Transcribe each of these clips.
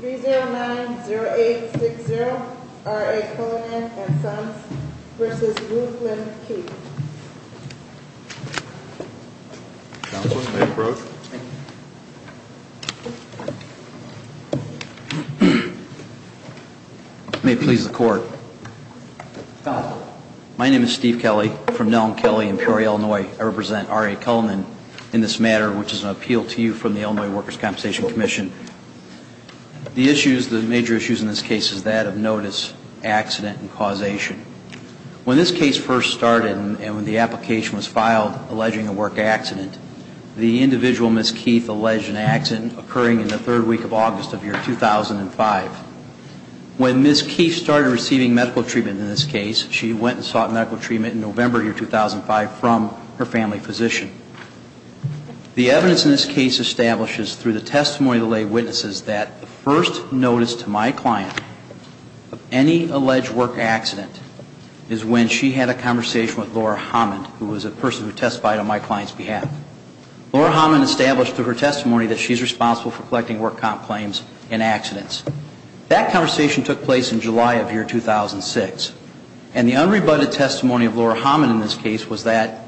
3-0-9-0-8-6-0 R.A. Cullinan & Sons v. Ruth Lynn Keith May it please the Court Counsel The issues, the major issues in this case is that of notice, accident and causation. When this case first started and when the application was filed alleging a work accident, the individual, Ms. Keith, alleged an accident occurring in the third week of August of the year 2005. When Ms. Keith started receiving medical treatment in this case, she went and sought medical treatment in November of the year 2005 from her family physician. The evidence in this case establishes through the testimony of the lay witnesses that the first notice to my client of any alleged work accident is when she had a conversation with Laura Hammond, who was a person who testified on my client's behalf. Laura Hammond established through her testimony that she is responsible for collecting work comp claims and accidents. That conversation took place in July of the year 2006. And the unrebutted testimony of Laura Hammond in this case was that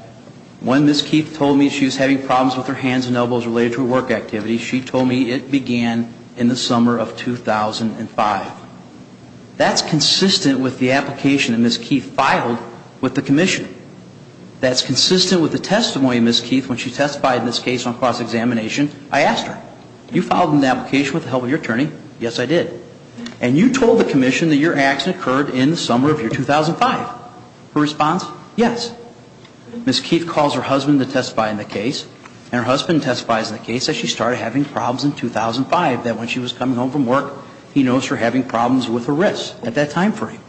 when Ms. Keith told me she was having problems with her hands and elbows related to a work activity, she told me it began in the summer of 2005. That's consistent with the application that Ms. Keith filed with the Commission. That's consistent with the testimony of Ms. Keith when she testified in this case on cross-examination. I asked her, you filed an application with the help of your attorney. Yes, I did. And you told the Commission that your accident occurred in the summer of 2005. Her response, yes. Ms. Keith calls her husband to testify in the case. And her husband testifies in the case that she started having problems in 2005, that when she was coming home from work, he noticed her having problems with her wrists at that time frame.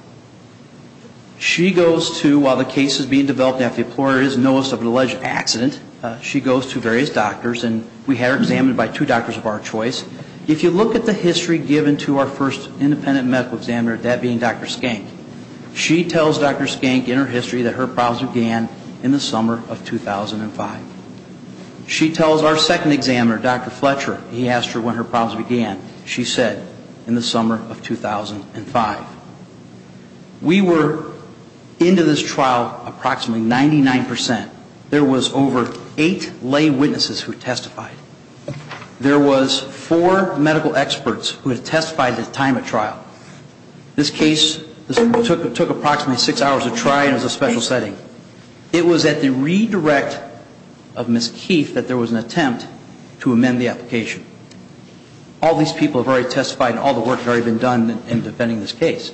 She goes to, while the case is being developed and the employer is noticed of an alleged accident, she goes to various doctors and we had her examined by two doctors of our choice. If you look at the history given to our first independent medical examiner, that being Dr. Skank, she tells Dr. Skank in her history that her problems began in the summer of 2005. She tells our second examiner, Dr. Fletcher, he asked her when her problems began. She said in the summer of 2005. We were into this trial approximately 99%. There was over eight lay witnesses who testified. There was four medical experts who had testified at the time of trial. This case took approximately six hours to try and it was a special setting. It was at the redirect of Ms. Keith that there was an attempt to amend the application. All these people have already testified and all the work had already been done in defending this case.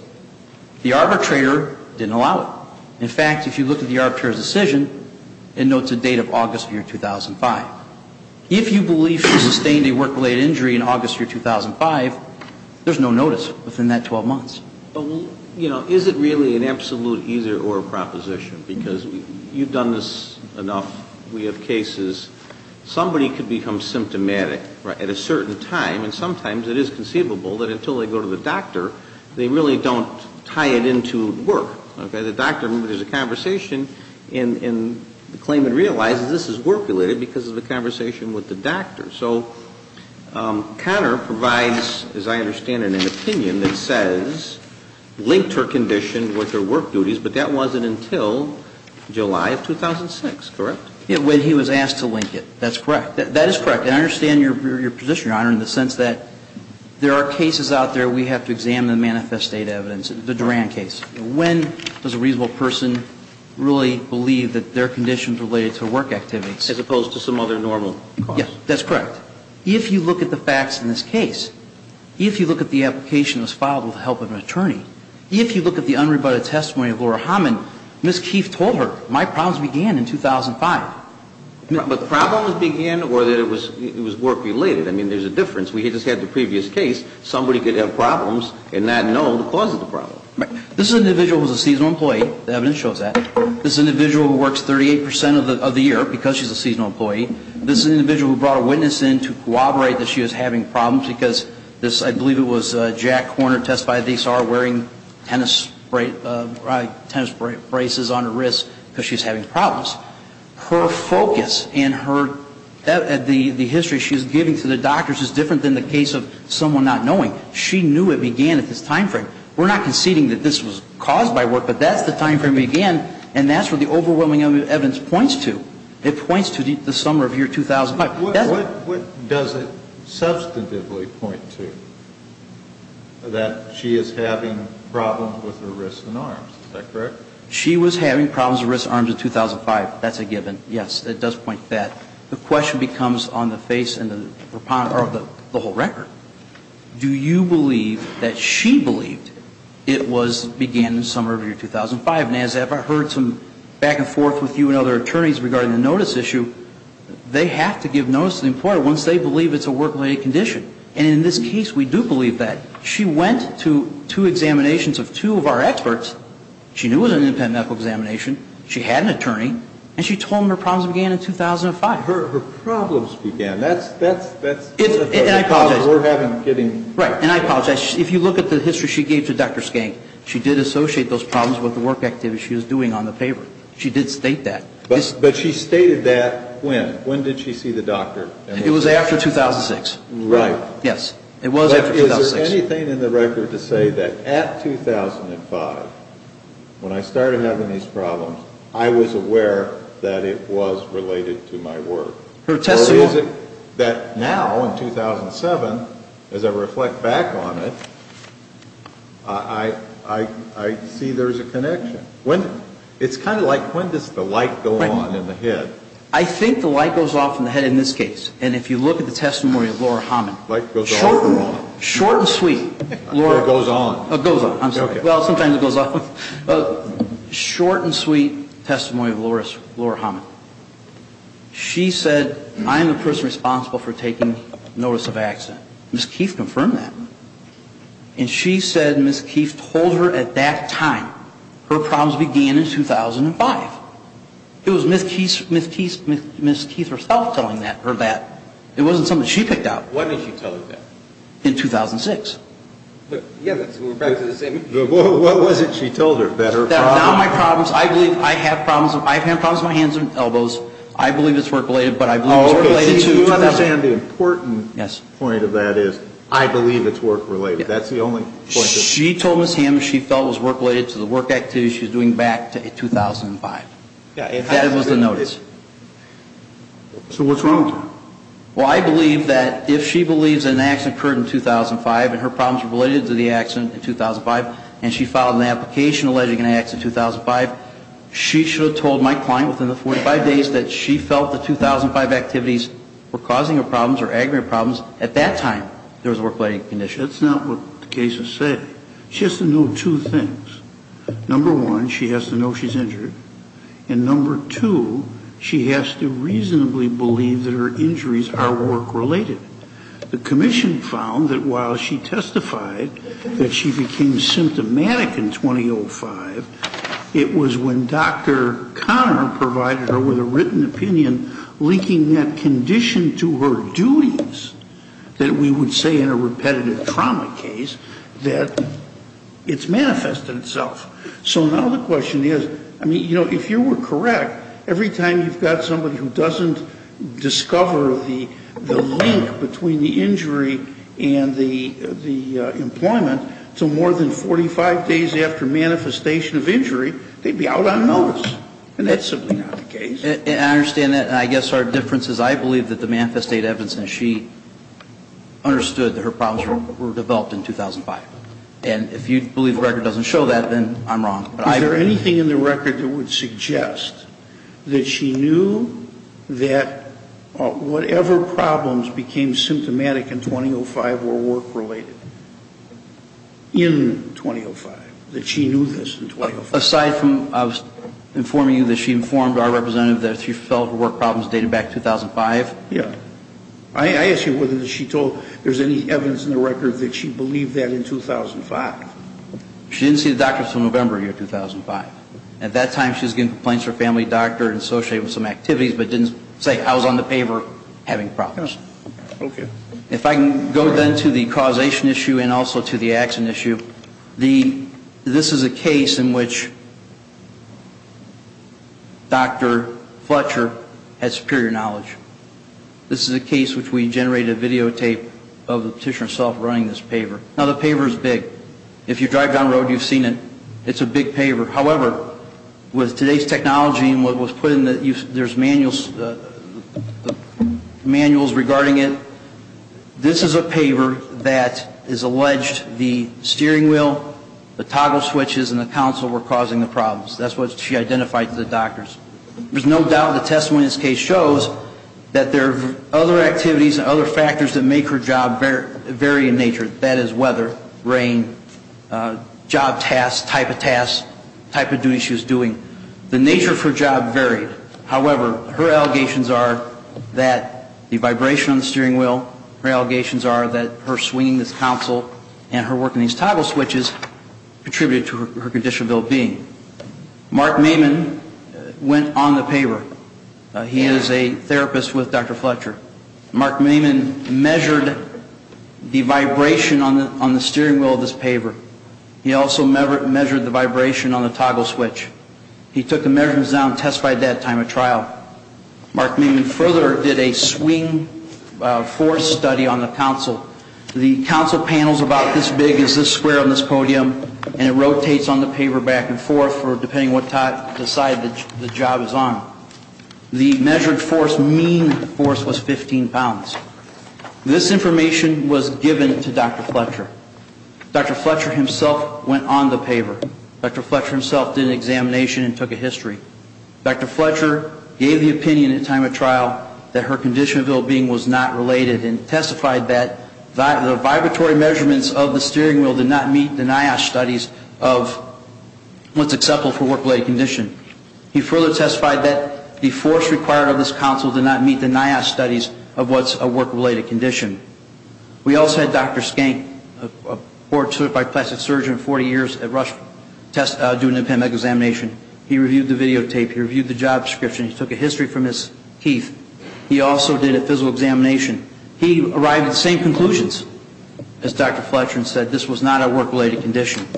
The arbitrator didn't allow it. In fact, if you look at the arbitrator's decision, it notes a date of August of 2005. If you believe she sustained a work-related injury in August of 2005, there's no notice within that 12 months. Is it really an absolute either or proposition? Because you've done this enough. We have cases. Somebody could become symptomatic at a certain time and sometimes it is conceivable that until they go to the doctor, they really don't tie it into work. The doctor, there's a conversation and the claimant realizes this is work-related because of the conversation with the doctor. So Connor provides, as I understand it, an opinion that says, linked her condition with her work duties, but that wasn't until July of 2006. Correct? When he was asked to link it. That's correct. That is correct. And I understand your position, Your Honor, in the sense that there are cases out there we have to examine the manifest state evidence, the Duran case. When does a reasonable person really believe that their condition is related to work activities? As opposed to some other normal cause. Yes, that's correct. If you look at the facts in this case, if you look at the application that was filed with the help of an attorney, if you look at the unrebutted testimony of Laura Haman, Ms. Keefe told her, my problems began in 2005. But problems began or that it was work-related? I mean, there's a difference. We just had the previous case. Somebody could have problems and not know the cause of the problem. This individual was a seasonal employee. The evidence shows that. This individual works 38 percent of the year because she's a seasonal employee. This is an individual who brought a witness in to corroborate that she was having problems because this, I believe it was Jack Horner testified, they saw her wearing tennis braces on her wrists because she was having problems. Her focus and the history she was giving to the doctors is different than the case of someone not knowing. She knew it began at this time frame. We're not conceding that this was caused by work, but that's the time frame it began, and that's where the overwhelming evidence points to. It points to the summer of year 2005. What does it substantively point to? That she is having problems with her wrists and arms. Is that correct? She was having problems with her wrists and arms in 2005. That's a given, yes. It does point to that. The question becomes on the face and the whole record. Do you believe that she believed it was began in the summer of year 2005? And as I've heard some back and forth with you and other attorneys regarding the notice issue, they have to give notice to the employer once they believe it's a work-related condition. And in this case, we do believe that. She went to two examinations of two of our experts. She knew it was an independent medical examination. She had an attorney, and she told them her problems began in 2005. Her problems began. That's a problem we're having. Right. And I apologize. If you look at the history she gave to Dr. Skank, she did associate those problems with the work activity she was doing on the paper. She did state that. But she stated that when? When did she see the doctor? It was after 2006. Right. Yes. It was after 2006. Is there anything in the record to say that at 2005, when I started having these problems, I was aware that it was related to my work? Her testimony. Or is it that now, in 2007, as I reflect back on it, I see there's a connection? When? It's kind of like when does the light go on in the head? I think the light goes off in the head in this case. And if you look at the testimony of Laura Hammond. The light goes off for a moment. Short and sweet. It goes on. It goes on. I'm sorry. Well, sometimes it goes off. Short and sweet testimony of Laura Hammond. She said, I'm the person responsible for taking notice of accident. Ms. Keith confirmed that. And she said Ms. Keith told her at that time, her problems began in 2005. It was Ms. Keith herself telling her that. It wasn't something she picked up. When did she tell her that? In 2006. Yeah, we're back to the same issue. What was it she told her, that her problems? Not my problems. I believe I have problems. I have problems with my hands and elbows. I believe it's work-related. But I believe it's work-related to 2005. Do you understand the important point of that is, I believe it's work-related. That's the only point. She told Ms. Hammond she felt it was work-related to the work activity she was doing back in 2005. That was the notice. So what's wrong with her? Well, I believe that if she believes an accident occurred in 2005 and her problems were related to the accident in 2005 and she filed an application alleging an accident in 2005, she should have told my client within the 45 days that she felt the 2005 activities were causing her problems or aggravating her problems. At that time, there was a work-related condition. That's not what the case has said. She has to know two things. Number one, she has to know she's injured. And number two, she has to reasonably believe that her injuries are work-related. The commission found that while she testified that she became symptomatic in 2005, it was when Dr. Conner provided her with a written opinion linking that condition to her duties that we would say in a repetitive trauma case that it's manifest in itself. So now the question is, I mean, you know, if you were correct, every time you've got somebody who doesn't discover the link between the injury and the employment until more than 45 days after manifestation of injury, they'd be out on notice. And that's simply not the case. And I understand that. And I guess our difference is I believe that the manifest evidence and she understood that her problems were developed in 2005. And if you believe the record doesn't show that, then I'm wrong. Is there anything in the record that would suggest that she knew that whatever problems became symptomatic in 2005 were work-related in 2005, that she knew this in 2005? Aside from I was informing you that she informed our representative that she felt her work problems dated back to 2005? Yeah. I ask you whether she told there's any evidence in the record that she believed that in 2005. She didn't see the doctor until November of 2005. At that time she was giving complaints to her family doctor and associated with some activities but didn't say I was on the paver having problems. Okay. If I can go then to the causation issue and also to the action issue, this is a case in which Dr. Fletcher had superior knowledge. This is a case which we generated a videotape of the petitioner herself running this paver. Now, the paver is big. If you drive down the road, you've seen it. It's a big paver. However, with today's technology and what was put in, there's manuals regarding it, this is a paver that is alleged the steering wheel, the toggle switches, and the console were causing the problems. That's what she identified to the doctors. There's no doubt the testimony in this case shows that there are other activities and other factors that make her job vary in nature. That is weather, rain, job tasks, type of tasks, type of duty she was doing. The nature of her job varied. However, her allegations are that the vibration on the steering wheel, her allegations are that her swinging this console and her working these toggle switches contributed to her condition of ill-being. Mark Maiman went on the paver. He is a therapist with Dr. Fletcher. Mark Maiman measured the vibration on the steering wheel of this paver. He also measured the vibration on the toggle switch. He took the measurements down and testified at that time at trial. Mark Maiman further did a swing force study on the console. The console panel is about this big, is this square on this podium, and it rotates on the paver back and forth depending on what side the job is on. The measured force mean force was 15 pounds. This information was given to Dr. Fletcher. Dr. Fletcher himself went on the paver. Dr. Fletcher himself did an examination and took a history. Dr. Fletcher gave the opinion at time of trial that her condition of ill-being was not related and testified that the vibratory measurements of the steering wheel did not meet the NIOSH studies of what's acceptable for work-related condition. He further testified that the force required of this console did not meet the NIOSH studies of what's a work-related condition. We also had Dr. Skank, a board-certified plastic surgeon, 40 years at Rush doing the PEMEC examination. He reviewed the videotape. He reviewed the job description. He took a history from his teeth. He also did a physical examination. He arrived at the same conclusions as Dr. Fletcher and said this was not a work-related condition.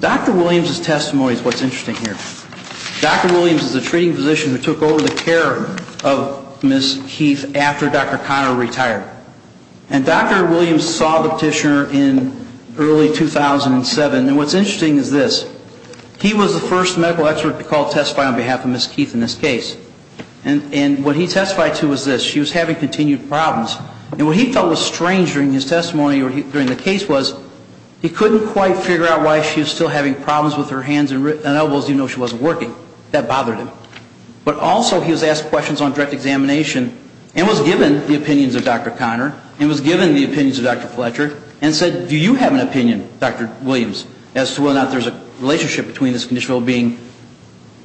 Dr. Williams' testimony is what's interesting here. Dr. Williams is a treating physician who took over the care of Ms. Keith after Dr. Conner retired. And Dr. Williams saw the petitioner in early 2007. And what's interesting is this. He was the first medical expert to call to testify on behalf of Ms. Keith in this case. And what he testified to was this. She was having continued problems. And what he felt was strange during his testimony or during the case was he couldn't quite figure out why she was still having problems with her hands and elbows even though she wasn't working. That bothered him. But also he was asked questions on direct examination and was given the opinions of Dr. Conner and was given the opinions of Dr. Fletcher and said, do you have an opinion, Dr. Williams, as to whether or not there's a relationship between this conditional well-being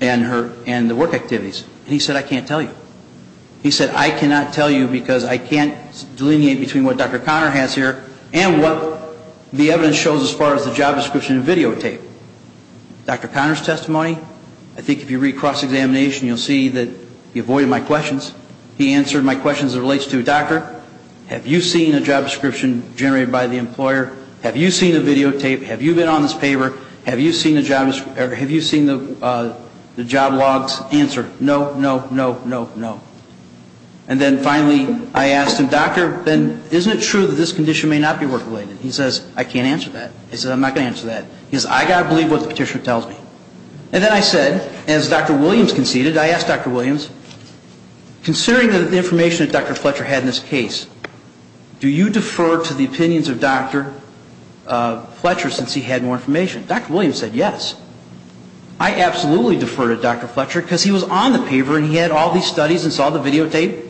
and the work activities. And he said, I can't tell you. He said, I cannot tell you because I can't delineate between what Dr. Conner has here and what the evidence shows as far as the job description and videotape. Dr. Conner's testimony, I think if you read cross-examination, you'll see that he avoided my questions. He answered my questions as it relates to, Doctor, have you seen a job description generated by the employer? Have you seen a videotape? Have you been on this paper? Have you seen the job logs? Answer, no, no, no, no, no. And then finally, I asked him, Doctor, then isn't it true that this condition may not be work-related? He says, I can't answer that. He says, I'm not going to answer that. He says, I've got to believe what the petitioner tells me. And then I said, as Dr. Williams conceded, I asked Dr. Williams, considering the information that Dr. Fletcher had in this case, do you defer to the opinions of Dr. Fletcher since he had more information? Dr. Williams said, yes. I absolutely defer to Dr. Fletcher because he was on the paper and he had all these studies and saw the videotape.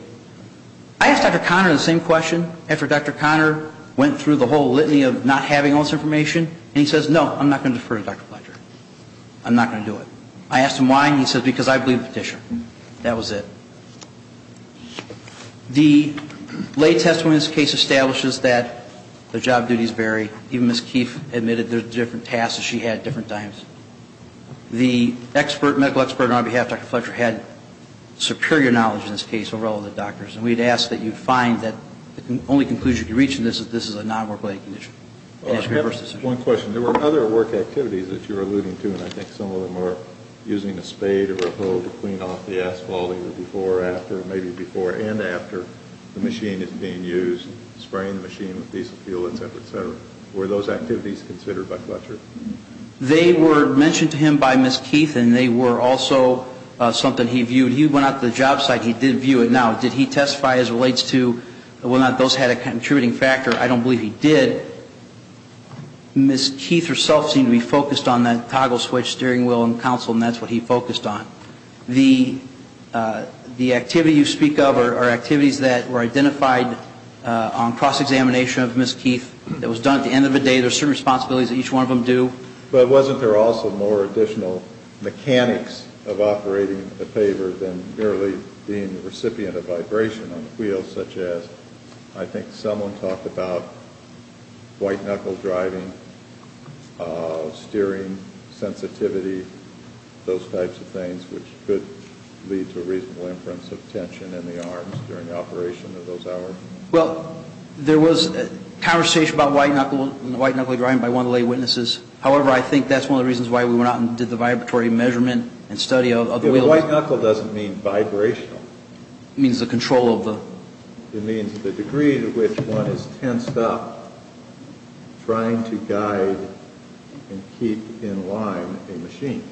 I asked Dr. Conner the same question after Dr. Conner went through the whole litany of not having all this information, and he says, no, I'm not going to defer to Dr. Fletcher. I'm not going to do it. I asked him why, and he says, because I believe the petitioner. That was it. The lay testimony in this case establishes that the job duties vary. Even Ms. Keefe admitted there were different tasks that she had at different times. The medical expert on our behalf, Dr. Fletcher, had superior knowledge in this case over all of the doctors, and we had asked that you find that the only conclusion you can reach in this is that this is a non-work-related condition. I have one question. There were other work activities that you were alluding to, and I think some of them were using a spade or a hoe to clean off the asphalt either before or after, or maybe before and after the machine is being used, spraying the machine with diesel fuel, et cetera, et cetera. Were those activities considered by Fletcher? They were mentioned to him by Ms. Keefe, and they were also something he viewed. He went out to the job site. He did view it. Now, did he testify as relates to whether or not those had a contributing factor? I don't believe he did. Ms. Keefe herself seemed to be focused on that toggle switch, steering wheel, and console, and that's what he focused on. The activity you speak of are activities that were identified on cross-examination of Ms. Keefe that was done at the end of the day. There are certain responsibilities that each one of them do. But wasn't there also more additional mechanics of operating the paver than merely being the recipient of vibration on the wheels, such as I think someone talked about white-knuckle driving, steering, sensitivity, those types of things which could lead to a reasonable inference of tension in the arms during the operation of those hours? Well, there was conversation about white-knuckle driving by one of the lay witnesses. However, I think that's one of the reasons why we went out and did the vibratory measurement and study of the wheels. White-knuckle doesn't mean vibrational. It means the control of the... It means the degree to which one is tensed up trying to guide and keep in line a machine.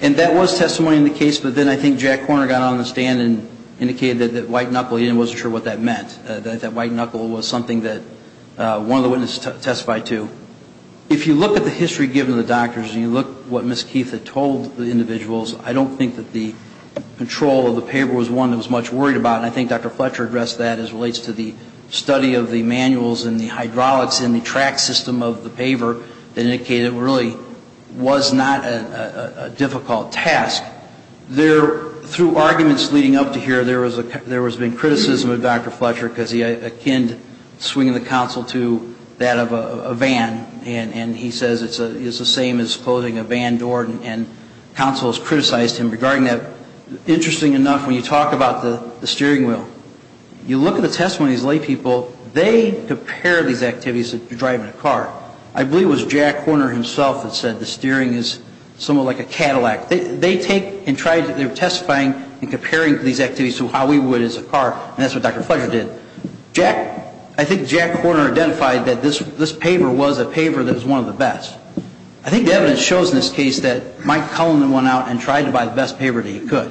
And that was testimony in the case, but then I think Jack Korner got on the stand and indicated that white-knuckle, he wasn't sure what that meant, that white-knuckle was something that one of the witnesses testified to. If you look at the history given to the doctors, and you look at what Ms. Keefe had told the individuals, I don't think that the control of the paver was one that was much worried about. And I think Dr. Fletcher addressed that as relates to the study of the manuals and the hydraulics in the track system of the paver that indicated it really was not a difficult task. Through arguments leading up to here, there has been criticism of Dr. Fletcher because he akined swinging the console to that of a van, and he says it's the same as closing a van door and consoles criticized him regarding that. Interesting enough, when you talk about the steering wheel, you look at the testimony of these lay people, they compare these activities to driving a car. I believe it was Jack Korner himself that said the steering is somewhat like a Cadillac. They take and try to testifying and comparing these activities to how we would as a car, and that's what Dr. Fletcher did. I think Jack Korner identified that this paver was a paver that was one of the best. I think the evidence shows in this case that Mike Cullinan went out and tried to buy the best paver that he could,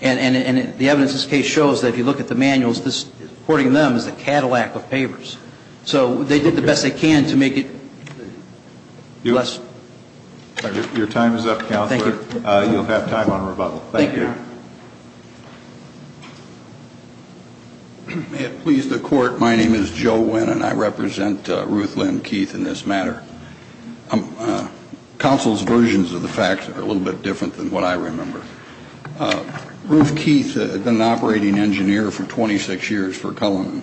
and the evidence in this case shows that if you look at the manuals, this, according to them, is a Cadillac of pavers. So they did the best they can to make it less. Your time is up, Counselor. Thank you. You'll have time on rebuttal. Thank you. May it please the Court, my name is Joe Winn, and I represent Ruth Lynn Keith in this matter. Counsel's versions of the facts are a little bit different than what I remember. Ruth Keith had been an operating engineer for 26 years for Cullinan,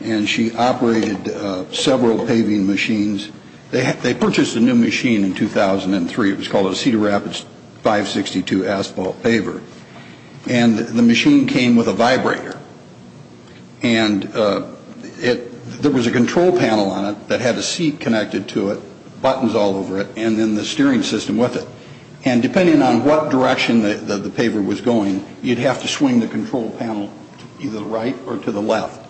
and she operated several paving machines. They purchased a new machine in 2003. It was called a Cedar Rapids 562 asphalt paver, and the machine came with a vibrator, and there was a control panel on it that had a seat connected to it, buttons all over it, and then the steering system with it. And depending on what direction the paver was going, you'd have to swing the control panel either to the right or to the left.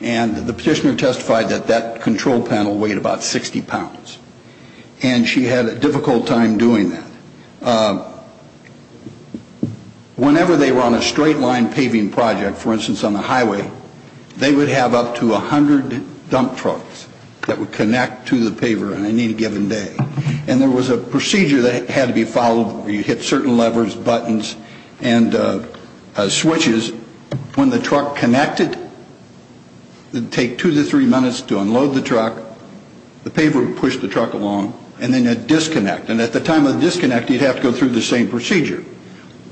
And the petitioner testified that that control panel weighed about 60 pounds, and she had a difficult time doing that. Whenever they were on a straight-line paving project, for instance on the highway, they would have up to 100 dump trucks that would connect to the paver on any given day. And there was a procedure that had to be followed where you'd hit certain levers, buttons, and switches. And that was when the truck connected, it would take two to three minutes to unload the truck, the paver would push the truck along, and then it'd disconnect. And at the time of the disconnect, you'd have to go through the same procedure.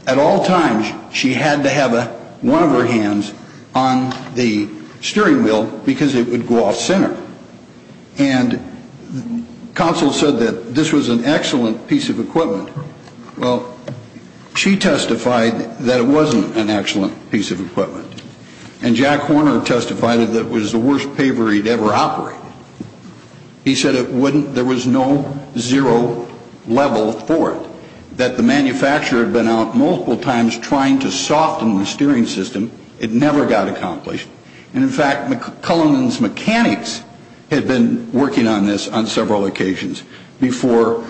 At all times, she had to have one of her hands on the steering wheel because it would go off center. And counsel said that this was an excellent piece of equipment. Well, she testified that it wasn't an excellent piece of equipment. And Jack Horner testified that it was the worst paver he'd ever operated. He said there was no zero level for it, that the manufacturer had been out multiple times trying to soften the steering system. It never got accomplished. And, in fact, Cullinan's mechanics had been working on this on several occasions before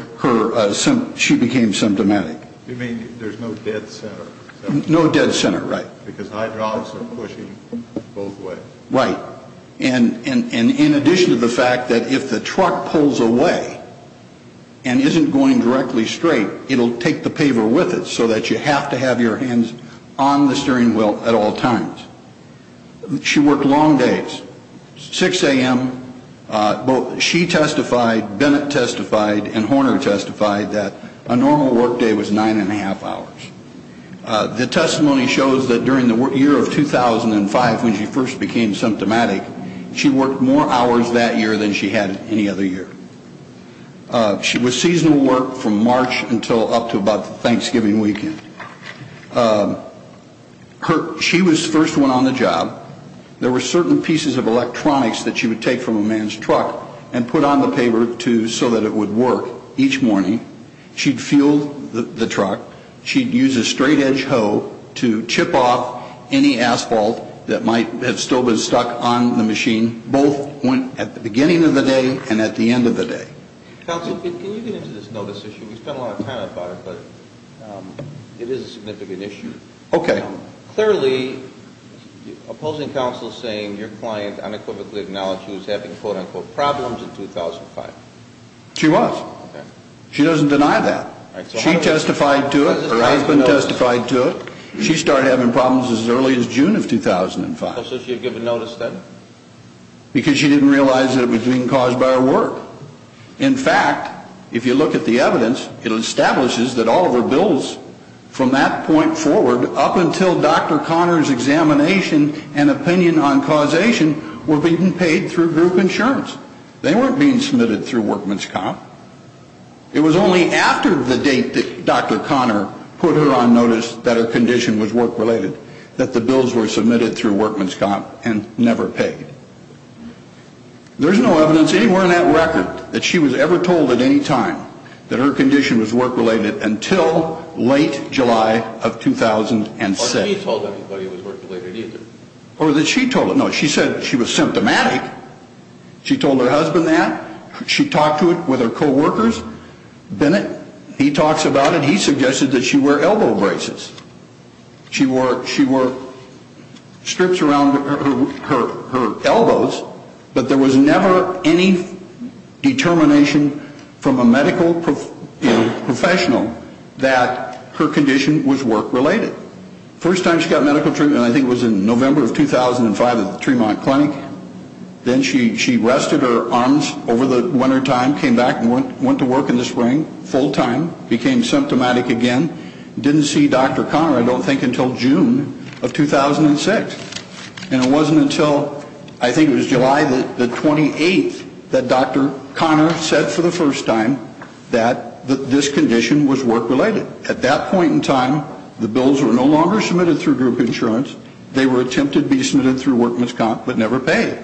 she became symptomatic. You mean there's no dead center? No dead center, right. Because hydraulics are pushing both ways. Right. And in addition to the fact that if the truck pulls away and isn't going directly straight, it'll take the paver with it so that you have to have your hands on the steering wheel at all times. She worked long days. 6 a.m., she testified, Bennett testified, and Horner testified that a normal work day was nine and a half hours. The testimony shows that during the year of 2005 when she first became symptomatic, she worked more hours that year than she had any other year. She was seasonal work from March until up to about Thanksgiving weekend. She was the first one on the job. There were certain pieces of electronics that she would take from a man's truck and put on the paver so that it would work each morning. She'd fuel the truck. She'd use a straightedge hoe to chip off any asphalt that might have still been stuck on the machine, both at the beginning of the day and at the end of the day. Counsel, can you get into this notice issue? We spent a lot of time on it, but it is a significant issue. Okay. Clearly, opposing counsel is saying your client unequivocally acknowledged she was having quote-unquote problems in 2005. She was. She doesn't deny that. She testified to it. Her husband testified to it. She started having problems as early as June of 2005. So she had given notice then? Because she didn't realize that it was being caused by her work. In fact, if you look at the evidence, it establishes that all of her bills from that point forward up until Dr. Conner's examination and opinion on causation were being paid through group insurance. They weren't being submitted through workman's comp. It was only after the date that Dr. Conner put her on notice that her condition was work-related that the bills were submitted through workman's comp and never paid. There's no evidence anywhere in that record that she was ever told at any time that her condition was work-related until late July of 2006. Or she told everybody it was work-related either. Or that she told it. No, she said she was symptomatic. She told her husband that. She talked to it with her coworkers. Bennett, he talks about it. He suggested that she wear elbow braces. She wore strips around her elbows, but there was never any determination from a medical professional that her condition was work-related. First time she got medical treatment, I think it was in November of 2005 at the Tremont Clinic. Then she rested her arms over the wintertime, came back and went to work in the spring full-time, became symptomatic again. Didn't see Dr. Conner, I don't think, until June of 2006. And it wasn't until, I think it was July the 28th, that Dr. Conner said for the first time that this condition was work-related. At that point in time, the bills were no longer submitted through group insurance. They were attempted to be submitted through workman's comp but never paid.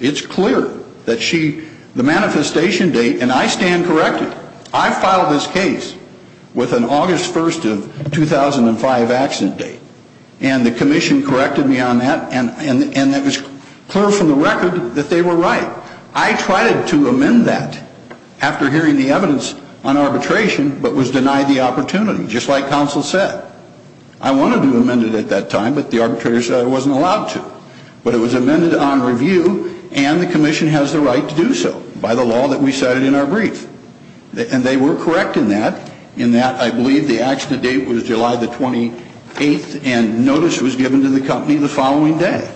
It's clear that she, the manifestation date, and I stand corrected. I filed this case with an August 1st of 2005 accident date. And the commission corrected me on that, and it was clear from the record that they were right. I tried to amend that after hearing the evidence on arbitration, but was denied the opportunity, just like counsel said. I wanted to amend it at that time, but the arbitrator said I wasn't allowed to. But it was amended on review, and the commission has the right to do so by the law that we cited in our brief. And they were correct in that, in that I believe the accident date was July the 28th, and notice was given to the company the following day.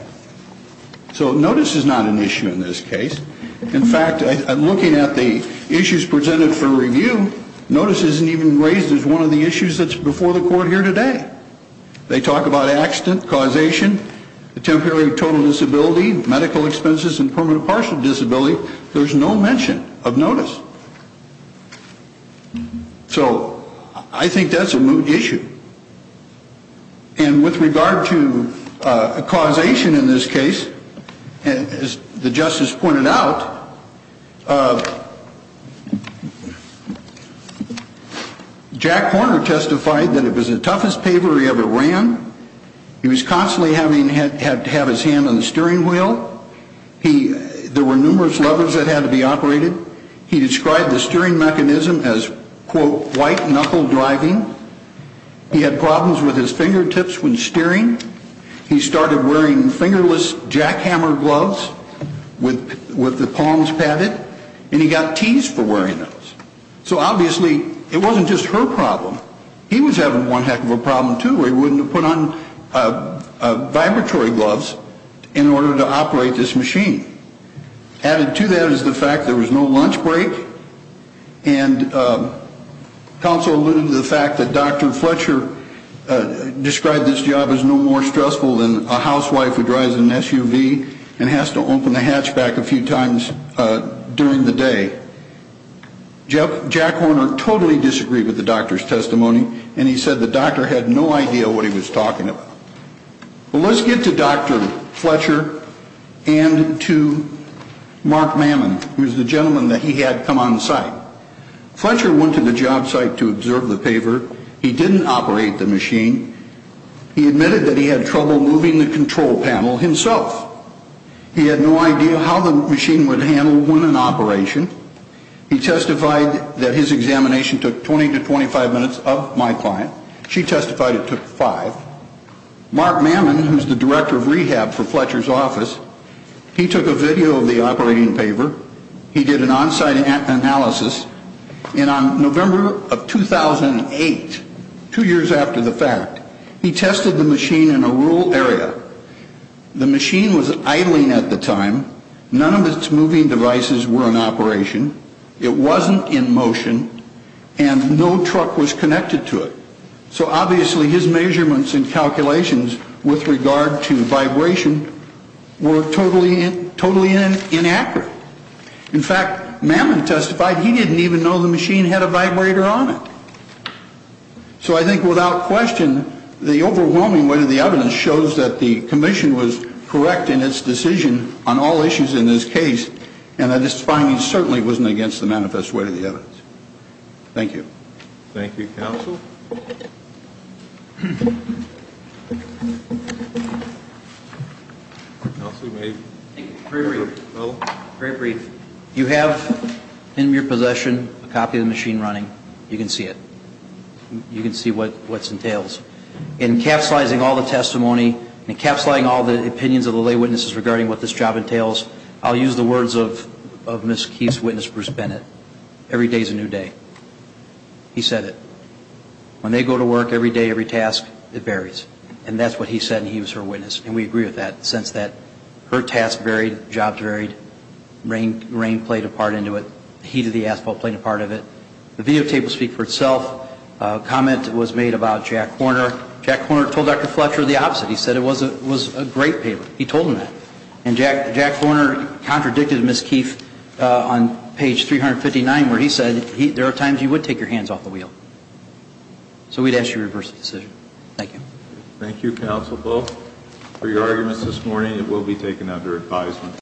So notice is not an issue in this case. In fact, I'm looking at the issues presented for review. Notice isn't even raised as one of the issues that's before the court here today. They talk about accident, causation, temporary total disability, medical expenses, and permanent partial disability. There's no mention of notice. So I think that's a moot issue. And with regard to causation in this case, as the justice pointed out, Jack Horner testified that it was the toughest pavement he ever ran. He was constantly having to have his hand on the steering wheel. There were numerous levers that had to be operated. He described the steering mechanism as, quote, white knuckle driving. He had problems with his fingertips when steering. He started wearing fingerless jackhammer gloves with the palms padded, and he got teased for wearing those. So obviously it wasn't just her problem. He was having one heck of a problem, too, where he wouldn't have put on vibratory gloves in order to operate this machine. Added to that is the fact there was no lunch break, and counsel alluded to the fact that Dr. Fletcher described this job as no more stressful than a housewife who drives an SUV and has to open the hatchback a few times during the day. Jack Horner totally disagreed with the doctor's testimony, and he said the doctor had no idea what he was talking about. Well, let's get to Dr. Fletcher and to Mark Mammon, who's the gentleman that he had come on site. Fletcher went to the job site to observe the paver. He didn't operate the machine. He admitted that he had trouble moving the control panel himself. He had no idea how the machine would handle when in operation. He testified that his examination took 20 to 25 minutes of my client. She testified it took five. Mark Mammon, who's the director of rehab for Fletcher's office, he took a video of the operating paver. He did an on-site analysis, and on November of 2008, two years after the fact, he tested the machine in a rural area. The machine was idling at the time. None of its moving devices were in operation. It wasn't in motion, and no truck was connected to it. So obviously his measurements and calculations with regard to vibration were totally inaccurate. In fact, Mammon testified he didn't even know the machine had a vibrator on it. So I think without question, the overwhelming weight of the evidence shows that the commission was correct in its decision on all issues in this case, and that its findings certainly wasn't against the manifest weight of the evidence. Thank you. Thank you, counsel. Counsel, may we? Very brief. Very brief. You have in your possession a copy of the machine running. You can see it. You can see what it entails. Encapsulizing all the testimony, encapsulating all the opinions of the lay witnesses regarding what this job entails, I'll use the words of Ms. Keefe's witness, Bruce Bennett. Every day is a new day. He said it. When they go to work every day, every task, it varies. And that's what he said, and he was her witness, and we agree with that, in the sense that her task varied, jobs varied, rain played a part into it, heat of the asphalt played a part of it. The videotape will speak for itself. A comment was made about Jack Horner. Jack Horner told Dr. Fletcher the opposite. He said it was a great paper. He told him that. And Jack Horner contradicted Ms. Keefe on page 359, where he said, there are times you would take your hands off the wheel. So we'd ask you to reverse the decision. Thank you. Thank you, Counsel Poe, for your arguments this morning. It will be taken under advisement.